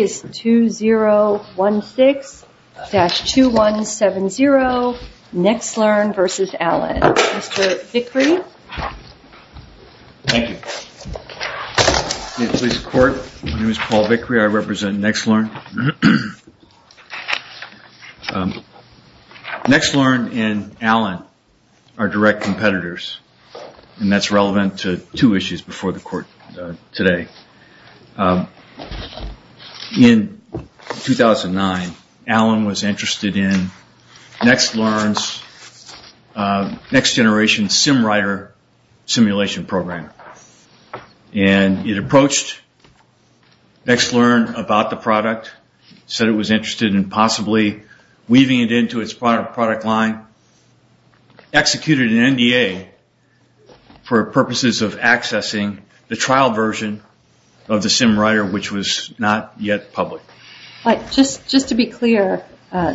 2016-2170 NexLearn v. Allen. Mr. Vickrey. Thank you. My name is Paul Vickrey, I represent NexLearn. NexLearn and Allen are direct competitors and that's relevant to two issues before the court today. In 2009, Allen was interested in NexLearn's next generation SimWriter simulation program. And it approached NexLearn about the product, said it was interested in possibly weaving it into its product line, executed in NDA for purposes of accessing the trial version of the SimWriter, which was not yet public. Just to be clear,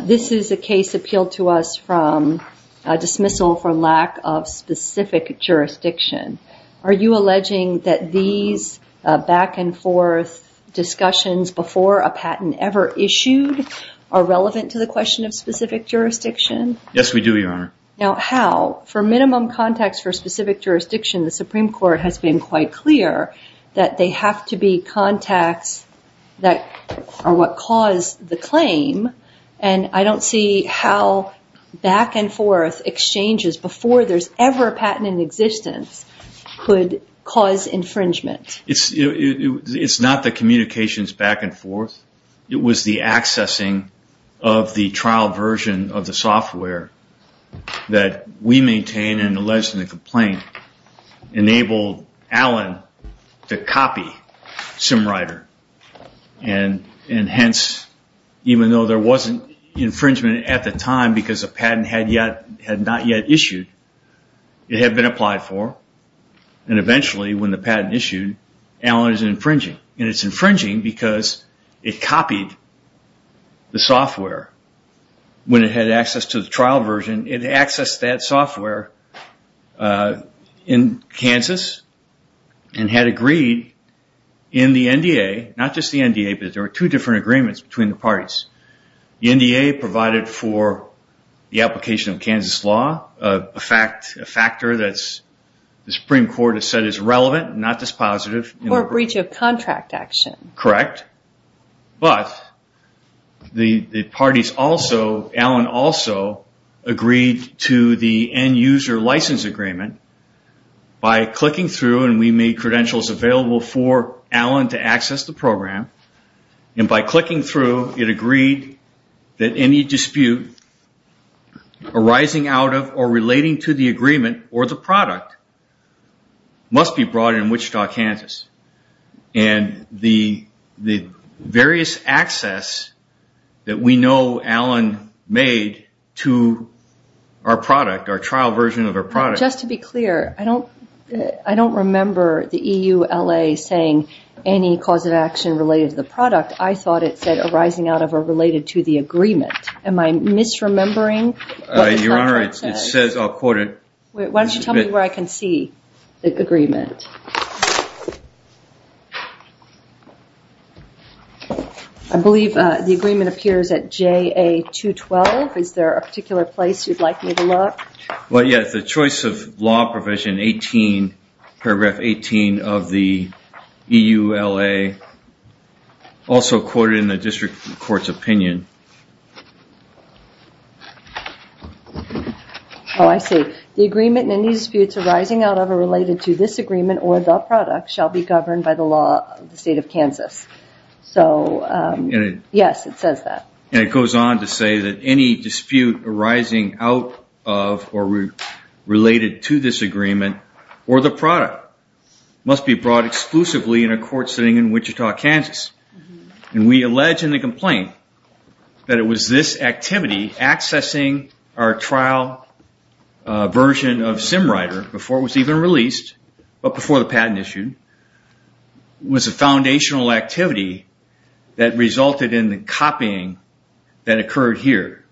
this is a case appealed to us from a dismissal for lack of specific jurisdiction. Are you alleging that these back and forth discussions before a patent ever issued are relevant to the question of specific jurisdiction? Yes, we do, Your Honor. Now, how? For minimum contacts for specific jurisdiction, the Supreme Court has been quite clear that they have to be contacts that are what cause the claim. And I don't see how back and forth exchanges before there's ever a patent in existence could cause infringement. It's not the communications back and forth. It was the accessing of the trial version of the software that we maintain and alleged in the complaint enabled Allen to copy SimWriter. And hence, even though there wasn't infringement at the time because the patent had not yet issued, it had been applied for. And eventually, when the patent issued, Allen is infringing. And it's infringing because it copied the software. When it had access to the trial version, it accessed that software in Kansas and had agreed in the NDA, not just the NDA, but there were two different agreements between the parties. The NDA provided for the application of Kansas law, a factor that the Supreme Court has said is relevant, not dispositive. Or a breach of contract action. Correct. But the parties also, Allen also, agreed to the end user license agreement by clicking through, and we made credentials available for Allen to access the program. And by clicking through, it agreed that any dispute arising out of or relating to the agreement or the product must be brought in Wichita, Kansas. And the various access that we know Allen made to our product, our trial version of our product. Just to be clear, I don't remember the EULA saying any cause of action related to the product. I thought it said arising out of or related to the agreement. Am I misremembering what the contract says? Your Honor, it says, I'll quote it. Why don't you tell me where I can see the agreement? I believe the agreement appears at JA212. Is there a particular place you'd like me to look? Well, yes, the choice of law provision 18, paragraph 18 of the EULA, also quoted in the district court's opinion. Oh, I see. The agreement and any disputes arising out of or related to this agreement or the product shall be governed by the law of the state of Kansas. So, yes, it says that. And it goes on to say that any dispute arising out of or related to this agreement or the product must be brought exclusively in a court sitting in Wichita, Kansas. And we allege in the complaint that it was this activity, accessing our trial version of SimRider before it was even released, but before the patent issued, was a foundational activity that resulted in the copying that occurred here.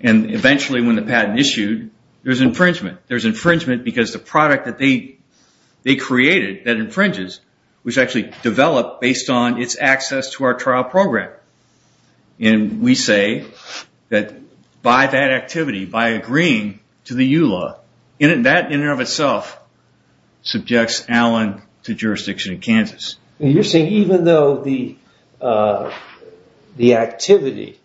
And eventually when the patent issued, there's infringement. There's infringement because the product that they created that infringes was actually developed based on its access to our trial program. And we say that by that activity, by agreeing to the EULA, that in and of itself subjects Allen to jurisdiction in Kansas. You're saying even though the activity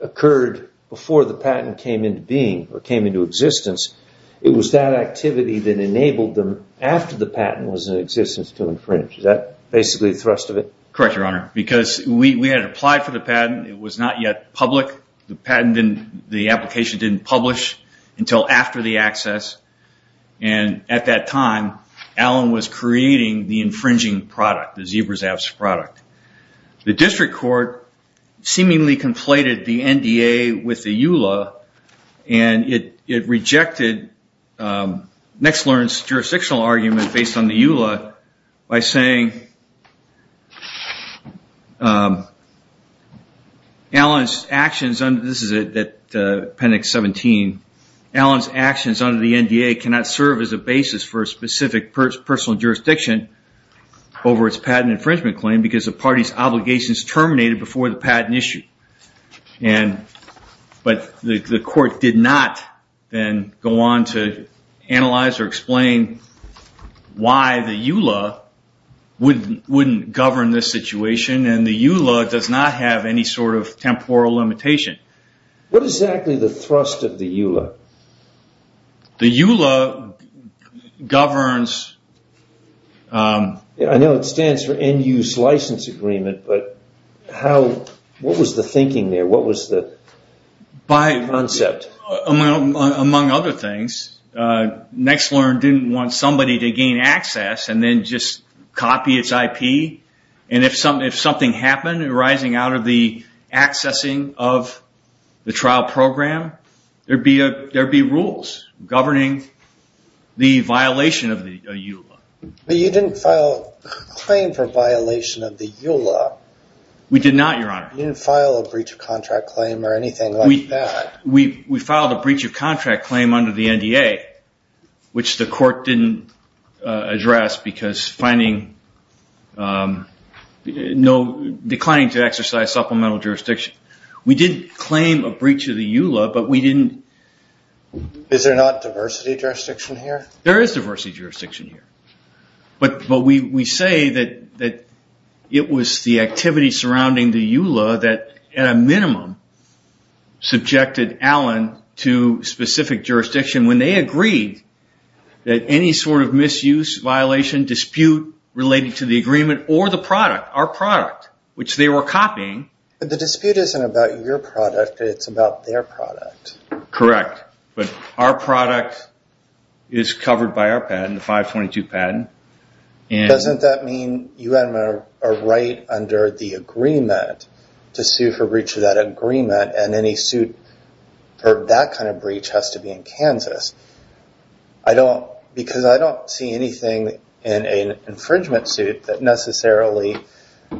occurred before the patent came into being or came into existence, it was that activity that enabled them after the patent was in existence to infringe. Is that basically the thrust of it? Correct, Your Honor. Because we had applied for the patent. It was not yet public. The patent didn't, the application didn't publish until after the access. And at that time, Allen was creating the infringing product, the Zebra Zaps product. The district court seemingly conflated the NDA with the EULA, and it rejected Nexlern's jurisdictional argument based on the EULA by saying this is at appendix 17, Allen's actions under the NDA cannot serve as a basis for a specific personal jurisdiction over its patent infringement claim because the party's obligations terminated before the patent issue. But the court did not then go on to analyze or explain why the EULA wouldn't govern this situation, and the EULA does not have any sort of temporal limitation. What is exactly the thrust of the EULA? The EULA governs. I know it stands for End Use License Agreement, but what was the thinking there? What was the concept? Among other things, Nexlern didn't want somebody to gain access and then just copy its IP, and if something happened arising out of the accessing of the trial program, there'd be rules governing the violation of the EULA. But you didn't file a claim for violation of the EULA. We did not, Your Honor. You didn't file a breach of contract claim or anything like that. We filed a breach of contract claim under the NDA, which the court didn't address because declining to exercise supplemental jurisdiction. We did claim a breach of the EULA, but we didn't... Is there not diversity jurisdiction here? There is diversity jurisdiction here. But we say that it was the activity surrounding the EULA that at a minimum subjected Allen to specific jurisdiction when they agreed that any sort of misuse, violation, dispute related to the agreement or the product, our product, which they were copying... But the dispute isn't about your product. It's about their product. Correct. But our product is covered by our patent, the 522 patent. Doesn't that mean you have a right under the agreement to sue for breach of that agreement and any suit for that kind of breach has to be in Kansas? Because I don't see anything in an infringement suit that necessarily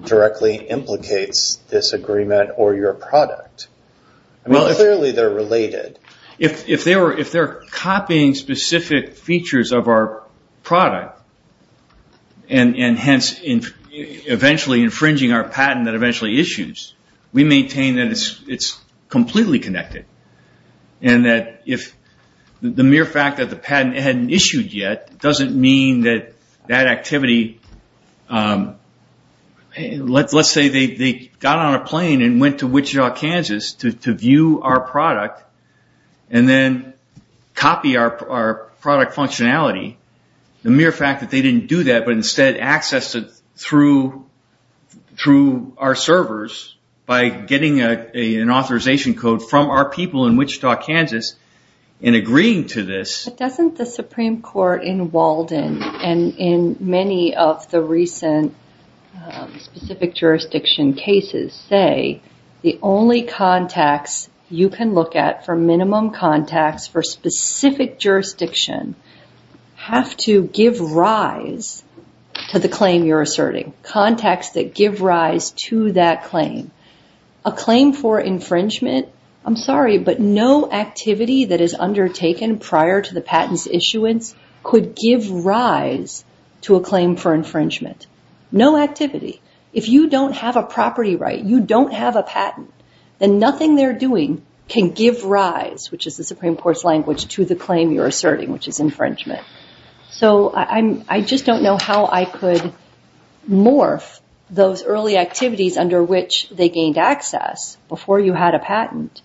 directly implicates this agreement or your product. Clearly they're related. If they're copying specific features of our product and hence eventually infringing our patent that eventually issues, we maintain that it's completely connected. And that if the mere fact that the patent hadn't issued yet doesn't mean that that activity... Let's say they got on a plane and went to Wichita, Kansas to view our product and then copy our product functionality. The mere fact that they didn't do that but instead accessed it through our servers by getting an authorization code from our people in Wichita, Kansas and agreeing to this... But doesn't the Supreme Court in Walden and in many of the recent specific jurisdiction cases say the only contacts you can look at for minimum contacts for specific jurisdiction have to give rise to the claim you're asserting? Contacts that give rise to that claim. A claim for infringement, I'm sorry, but no activity that is undertaken prior to the patent's issuance could give rise to a claim for infringement. No activity. If you don't have a property right, you don't have a patent, then nothing they're doing can give rise, which is the Supreme Court's language, to the claim you're asserting, which is infringement. So I just don't know how I could morph those early activities under which they gained access before you had a patent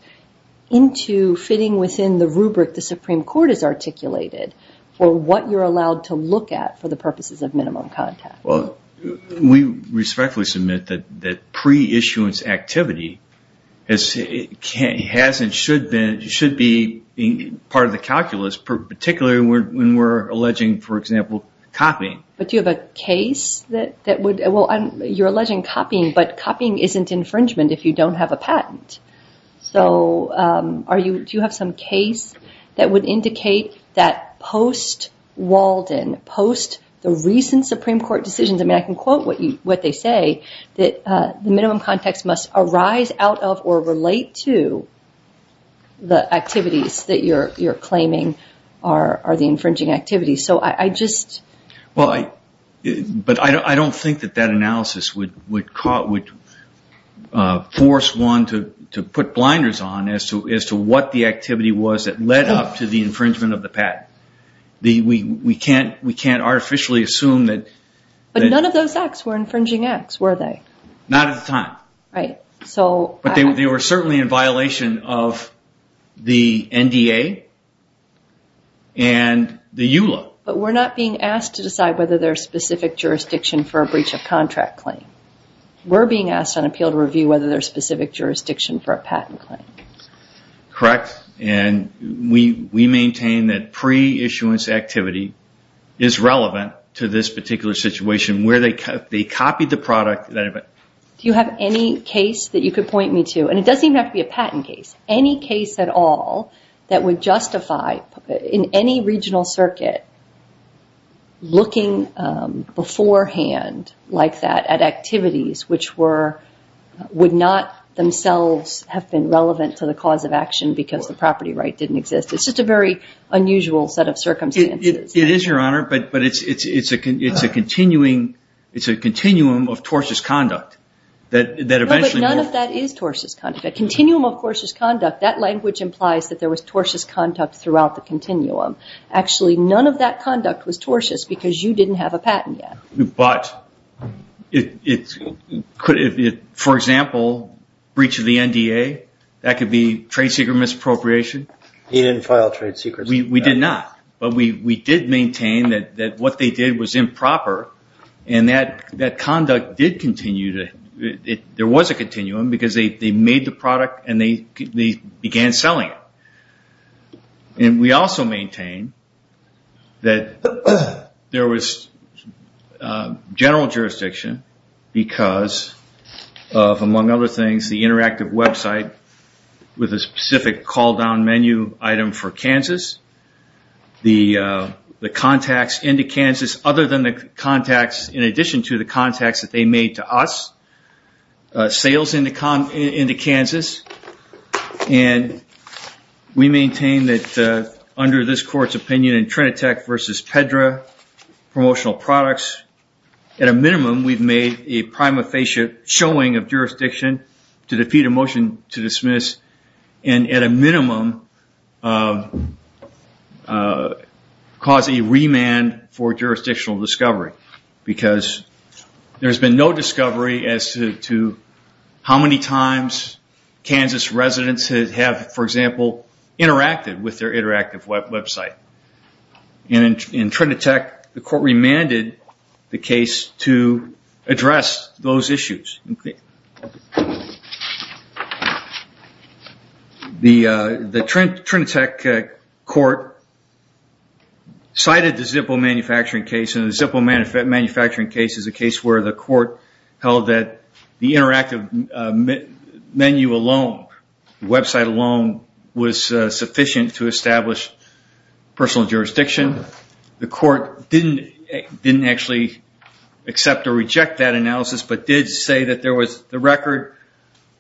into fitting within the rubric the Supreme Court has articulated for what you're allowed to look at for the purposes of minimum contact. We respectfully submit that pre-issuance activity should be part of the calculus, particularly when we're alleging, for example, copying. But do you have a case that would... Well, you're alleging copying, but copying isn't infringement if you don't have a patent. So do you have some case that would indicate that post Walden, post the recent Supreme Court decisions, I mean, I can quote what they say, that the minimum context must arise out of or relate to the activities that you're claiming are the infringing activities. So I just... Well, but I don't think that that analysis would force one to put blinders on as to what the activity was that led up to the infringement of the patent. We can't artificially assume that... But none of those acts were infringing acts, were they? Not at the time. But they were certainly in violation of the NDA and the EULA. But we're not being asked to decide whether there's specific jurisdiction for a breach of contract claim. We're being asked on appeal to review whether there's specific jurisdiction for a patent claim. Correct. And we maintain that pre-issuance activity is relevant to this particular situation where they copied the product... Do you have any case that you could point me to? And it doesn't even have to be a patent case. Any case at all that would justify, in any regional circuit, looking beforehand like that at activities which would not themselves have been relevant to the cause of action because the property right didn't exist. It's just a very unusual set of circumstances. It is, Your Honour. But it's a continuum of tortuous conduct that eventually... But none of that is tortuous conduct. A continuum of tortuous conduct, that language implies that there was tortuous conduct throughout the continuum. Actually, none of that conduct was tortuous because you didn't have a patent yet. But... For example, breach of the NDA, that could be trade secret misappropriation. He didn't file trade secrets. We did not. But we did maintain that what they did was improper and that conduct did continue. There was a continuum because they made the product and they began selling it. We also maintained that there was general jurisdiction because of, among other things, the interactive website with a specific call-down menu item for Kansas, the contacts into Kansas, other than the contacts, in addition to the contacts that they made to us, sales into Kansas. And we maintained that under this court's opinion in Trinitech versus Pedra promotional products, at a minimum we've made a prima facie showing of jurisdiction to defeat a motion to dismiss and at a minimum cause a remand for jurisdictional discovery because there's been no discovery as to how many times Kansas residents have, for example, interacted with their interactive website. In Trinitech, the court remanded the case to address those issues. The Trinitech court cited the Zippo manufacturing case and the Zippo manufacturing case as a case where the court held that the interactive menu alone, the website alone, was sufficient to establish personal jurisdiction. The court didn't actually accept or reject that analysis but did say that the record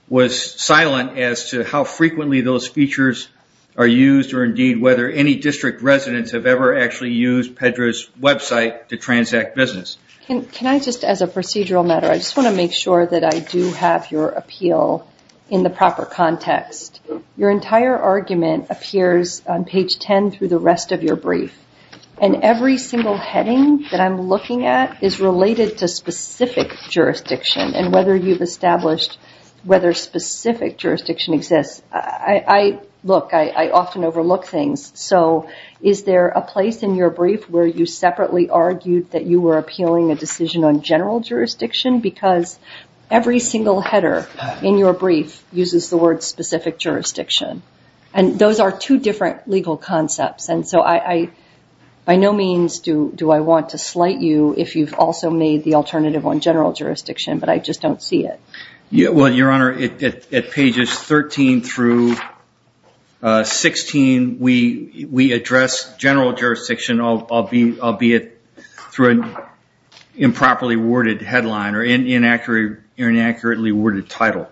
was silent as to how frequently those features are used or indeed whether any district residents have ever actually used Pedra's website to transact business. Can I just, as a procedural matter, I just want to make sure that I do have your appeal in the proper context. Your entire argument appears on page 10 through the rest of your brief and every single heading that I'm looking at is related to specific jurisdiction and whether you've established whether specific jurisdiction exists. Look, I often overlook things, so is there a place in your brief where you separately argued that you were appealing a decision on general jurisdiction because every single header in your brief uses the word specific jurisdiction and those are two different legal concepts and so by no means do I want to slight you if you've also made the alternative on general jurisdiction but I just don't see it. Well, Your Honor, at pages 13 through 16 we address general jurisdiction albeit through an improperly worded headline or inaccurately worded title.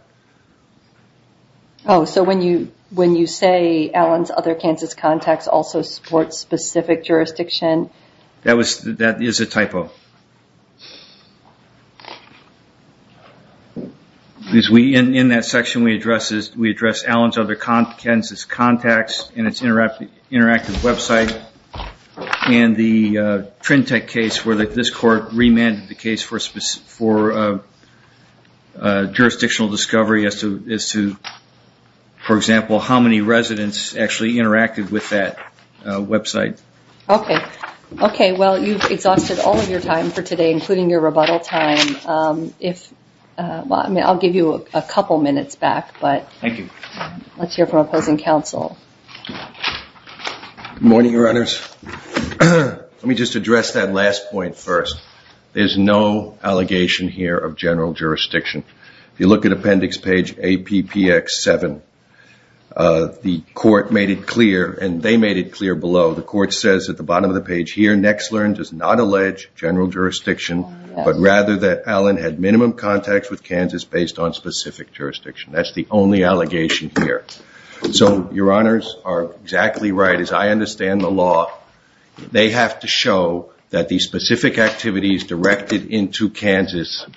Oh, so when you say Allen's Other Kansas Contacts also supports specific jurisdiction? That is a typo. In that section we address Allen's Other Kansas Contacts and its interactive website and the Trintec case where this court remanded the case for jurisdictional discovery as to, for example, how many residents actually interacted with that website. Okay, well you've exhausted all of your time for today including your rebuttal time. I'll give you a couple minutes back but let's hear from opposing counsel. Good morning, Your Honors. Let me just address that last point first. There's no allegation here of general jurisdiction. If you look at appendix page APPX7 the court made it clear and they made it clear below the court says at the bottom of the page here Nexlern does not allege general jurisdiction but rather that Allen had minimum contacts with Kansas based on specific jurisdiction. That's the only allegation here. So Your Honors are exactly right. As I understand the law they have to show that the specific activities directed into Kansas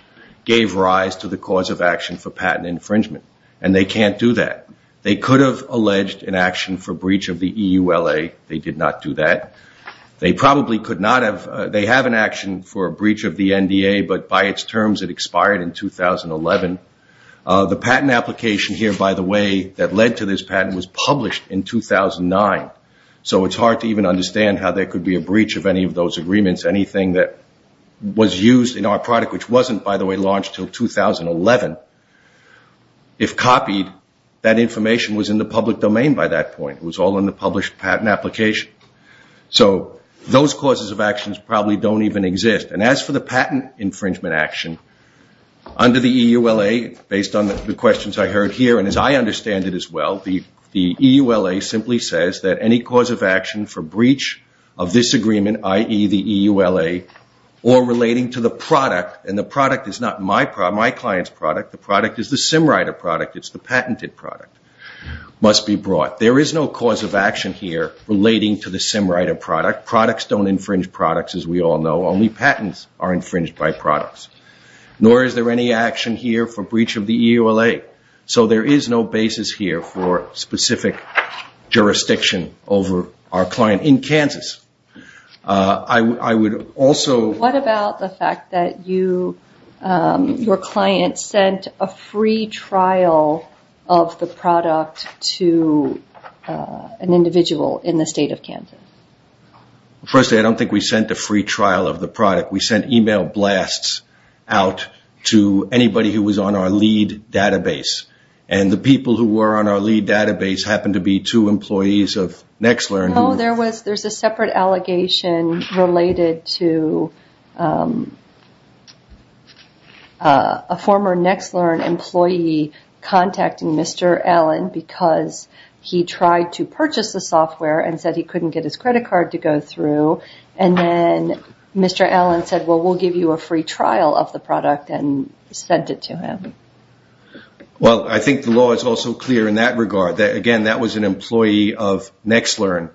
gave rise to the cause of action for patent infringement and they can't do that. They could have alleged an action for breach of the EULA. They did not do that. They probably could not have. They have an action for a breach of the NDA but by its terms it expired in 2011. The patent application here by the way that led to this patent was published in 2009. So it's hard to even understand how there could be a breach of any of those agreements. Anything that was used in our product which wasn't by the way launched until 2011. If copied that information was in the public domain by that point. It was all in the published patent application. So those causes of actions probably don't even exist. And as for the patent infringement action under the EULA based on the questions I heard here and as I understand it as well the EULA simply says that any cause of action for breach of this agreement i.e. the EULA or relating to the product and the product is not my client's product the product is the Simrider product it's the patented product must be brought. There is no cause of action here relating to the Simrider product. Products don't infringe products as we all know. Only patents are infringed by products. Nor is there any action here for breach of the EULA. So there is no basis here for specific jurisdiction over our client in Kansas. I would also... What about the fact that you your client sent a free trial of the product to an individual in the state of Kansas? Firstly I don't think we sent a free trial of the product. We sent email blasts out to anybody who was on our lead database. And the people who were on our lead database happened to be two employees of NextLearn. No, there's a separate allegation related to a former NextLearn employee contacting Mr. Allen because he tried to purchase the software and said he couldn't get his credit card to go through and then Mr. Allen said we'll give you a free trial of the product and sent it to him. Well, I think the law is also clear in that regard. Again, that was an employee of NextLearn.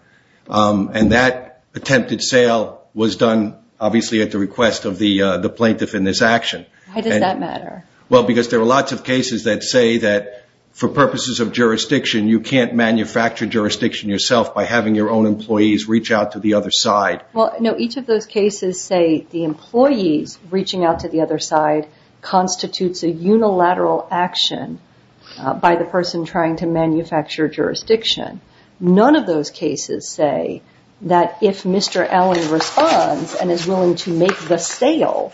And that attempted sale was done obviously at the request of the plaintiff in this action. Why does that matter? Well, because there are lots of cases that say that for purposes of jurisdiction you can't manufacture jurisdiction yourself by having your own employees reach out to the other side. Well, no. Each of those cases say the employees reaching out to the other side constitutes a unilateral action by the person trying to manufacture jurisdiction. None of those cases say that if Mr. Allen responds and is willing to make the sale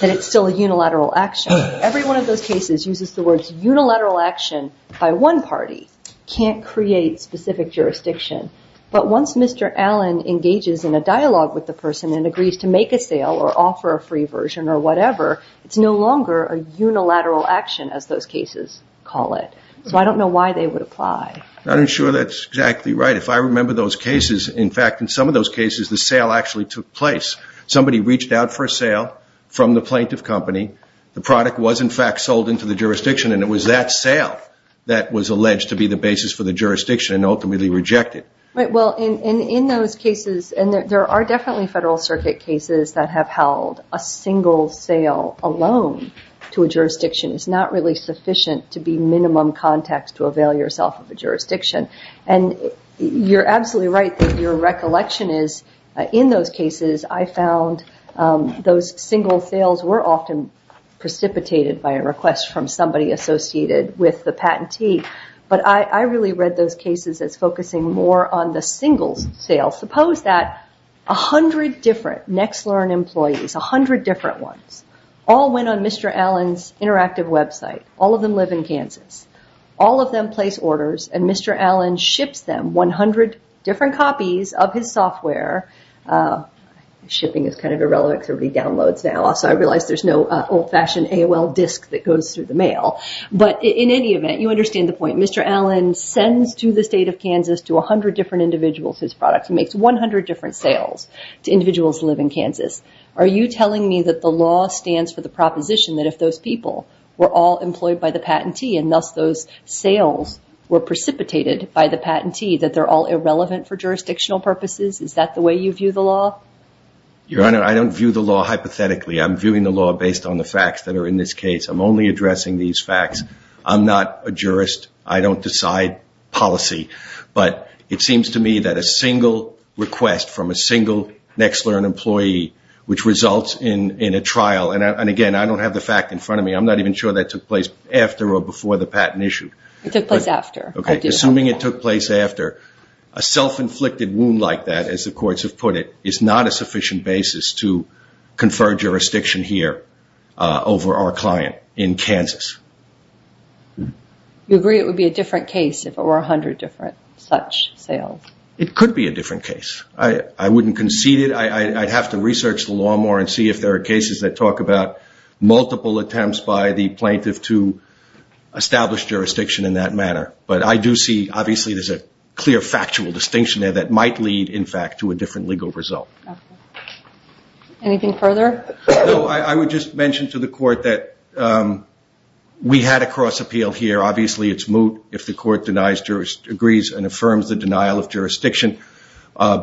that it's still a unilateral action. Every one of those cases uses the words unilateral action by one party. Can't create specific jurisdiction. But once Mr. Allen engages in a dialogue with the person and agrees to make a sale or offer a free version or whatever, it's no longer a unilateral action as those cases call it. So I don't know why they would apply. I'm not sure that's exactly right. If I remember those cases, in fact, in some of those cases the sale actually took place. Somebody reached out for a sale from the plaintiff company. The product was in fact sold into the jurisdiction and it was that sale that was alleged to be the basis for the jurisdiction and ultimately rejected. Right. Well, in those cases and there are definitely Federal Circuit cases that have held a single sale alone to a jurisdiction is not really sufficient to be minimum context to avail yourself of a jurisdiction. And you're absolutely right that your recollection is in those cases I found those single sales were often precipitated by a request from somebody associated with the patentee. But I really read those cases as focusing more on the single sales. Suppose that 100 different NextLearn employees, 100 different ones, all went on Mr. Allen's interactive website. All of them live in Kansas. All of them place orders and Mr. Allen ships them 100 different copies of his software. Shipping is kind of irrelevant because everybody downloads now so I realize there's no old-fashioned AOL disk that goes through the mail. But in any event, you understand the point. Mr. Allen sends to the state of Kansas to 100 different individuals his products. He makes 100 different sales to individuals who live in Kansas. Are you telling me that the law stands for the proposition that if those people were all employed by the patentee and thus those sales were precipitated by the patentee that they're all irrelevant for jurisdictional purposes? Is that the way you view the law? Your Honor, I don't view the law hypothetically. I'm viewing the law based on the facts that are in this case. I'm only addressing these facts. I'm not a jurist. I don't decide on a patent policy. But it seems to me that a single request from a single NextLearn employee which results in a trial and again, I don't have the fact in front of me, I'm not even sure that took place after or before the patent issue. It took place after. Assuming it took place after, a self-inflicted wound like that, as the courts have put it, is not a sufficient basis to confer jurisdiction here over our client in Kansas. You agree it would be a different case if it were 100 different such sales? It could be a different case. I wouldn't concede it. I'd have to research the law more and see if there are cases that talk about multiple attempts by the plaintiff to establish jurisdiction in that manner. But I do see, obviously, there's a clear factual distinction there that might lead, in fact, to a different legal result. Anything further? No, I would just mention to the Court that we had a cross appeal here. Obviously, it's moot if the Court denies, agrees, and affirms the denial of jurisdiction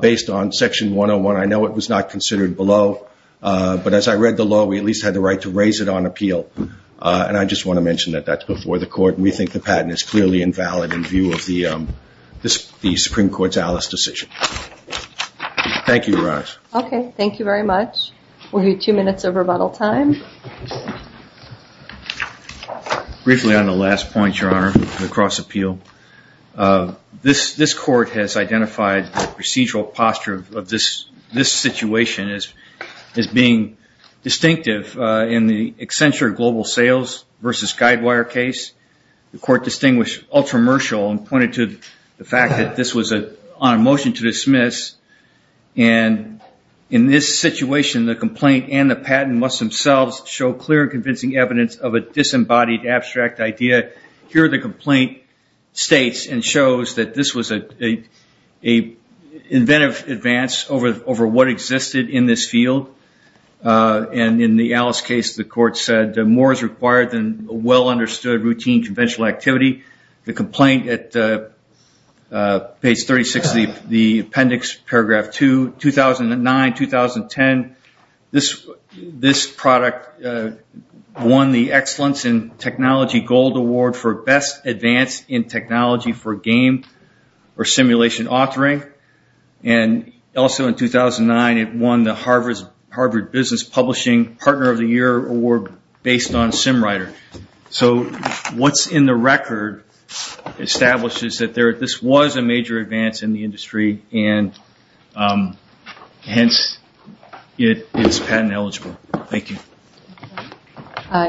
based on Section 101. I know it was not considered below, but as I read the law, we at least had the right to raise it on appeal. And I just want to mention that that's before the Court, and we think the patent is clearly invalid in view of the Supreme Court's Alice decision. Thank you, Your Honor. Okay, thank you very much. We'll give you two minutes of rebuttal time. Briefly, on the last point, Your Honor, on the cross appeal, this Court has identified the procedural posture of this situation as being distinctive in the Accenture Global Sales versus Guidewire case. The Court distinguished ultramercial and pointed to the fact that this was on a motion to dismiss, and in this situation, the complaint and the patent must themselves show clear and convincing evidence of a disembodied abstract idea. Here, the complaint states and shows that this was a inventive advance over what existed in this field, and in the Alice case, the Court said more is required than well-understood routine conventional activity. The complaint at page 36 of the appendix, paragraph 2, 2009-2010, this product won the excellence in technology gold award for best in technology for game or simulation authoring, and also in 2009, it won the Harvard Business Publishing Partner of the Year award based on SimWriter. So what's in the record establishes that this was a major advance in the industry, and hence it's patent-eligible. Thank you.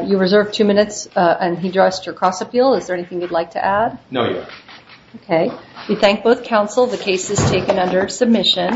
You reserve two minutes on cross-appeal. Is there anything you'd like to add? No. Okay. We thank both counsel. The case is taken under submission.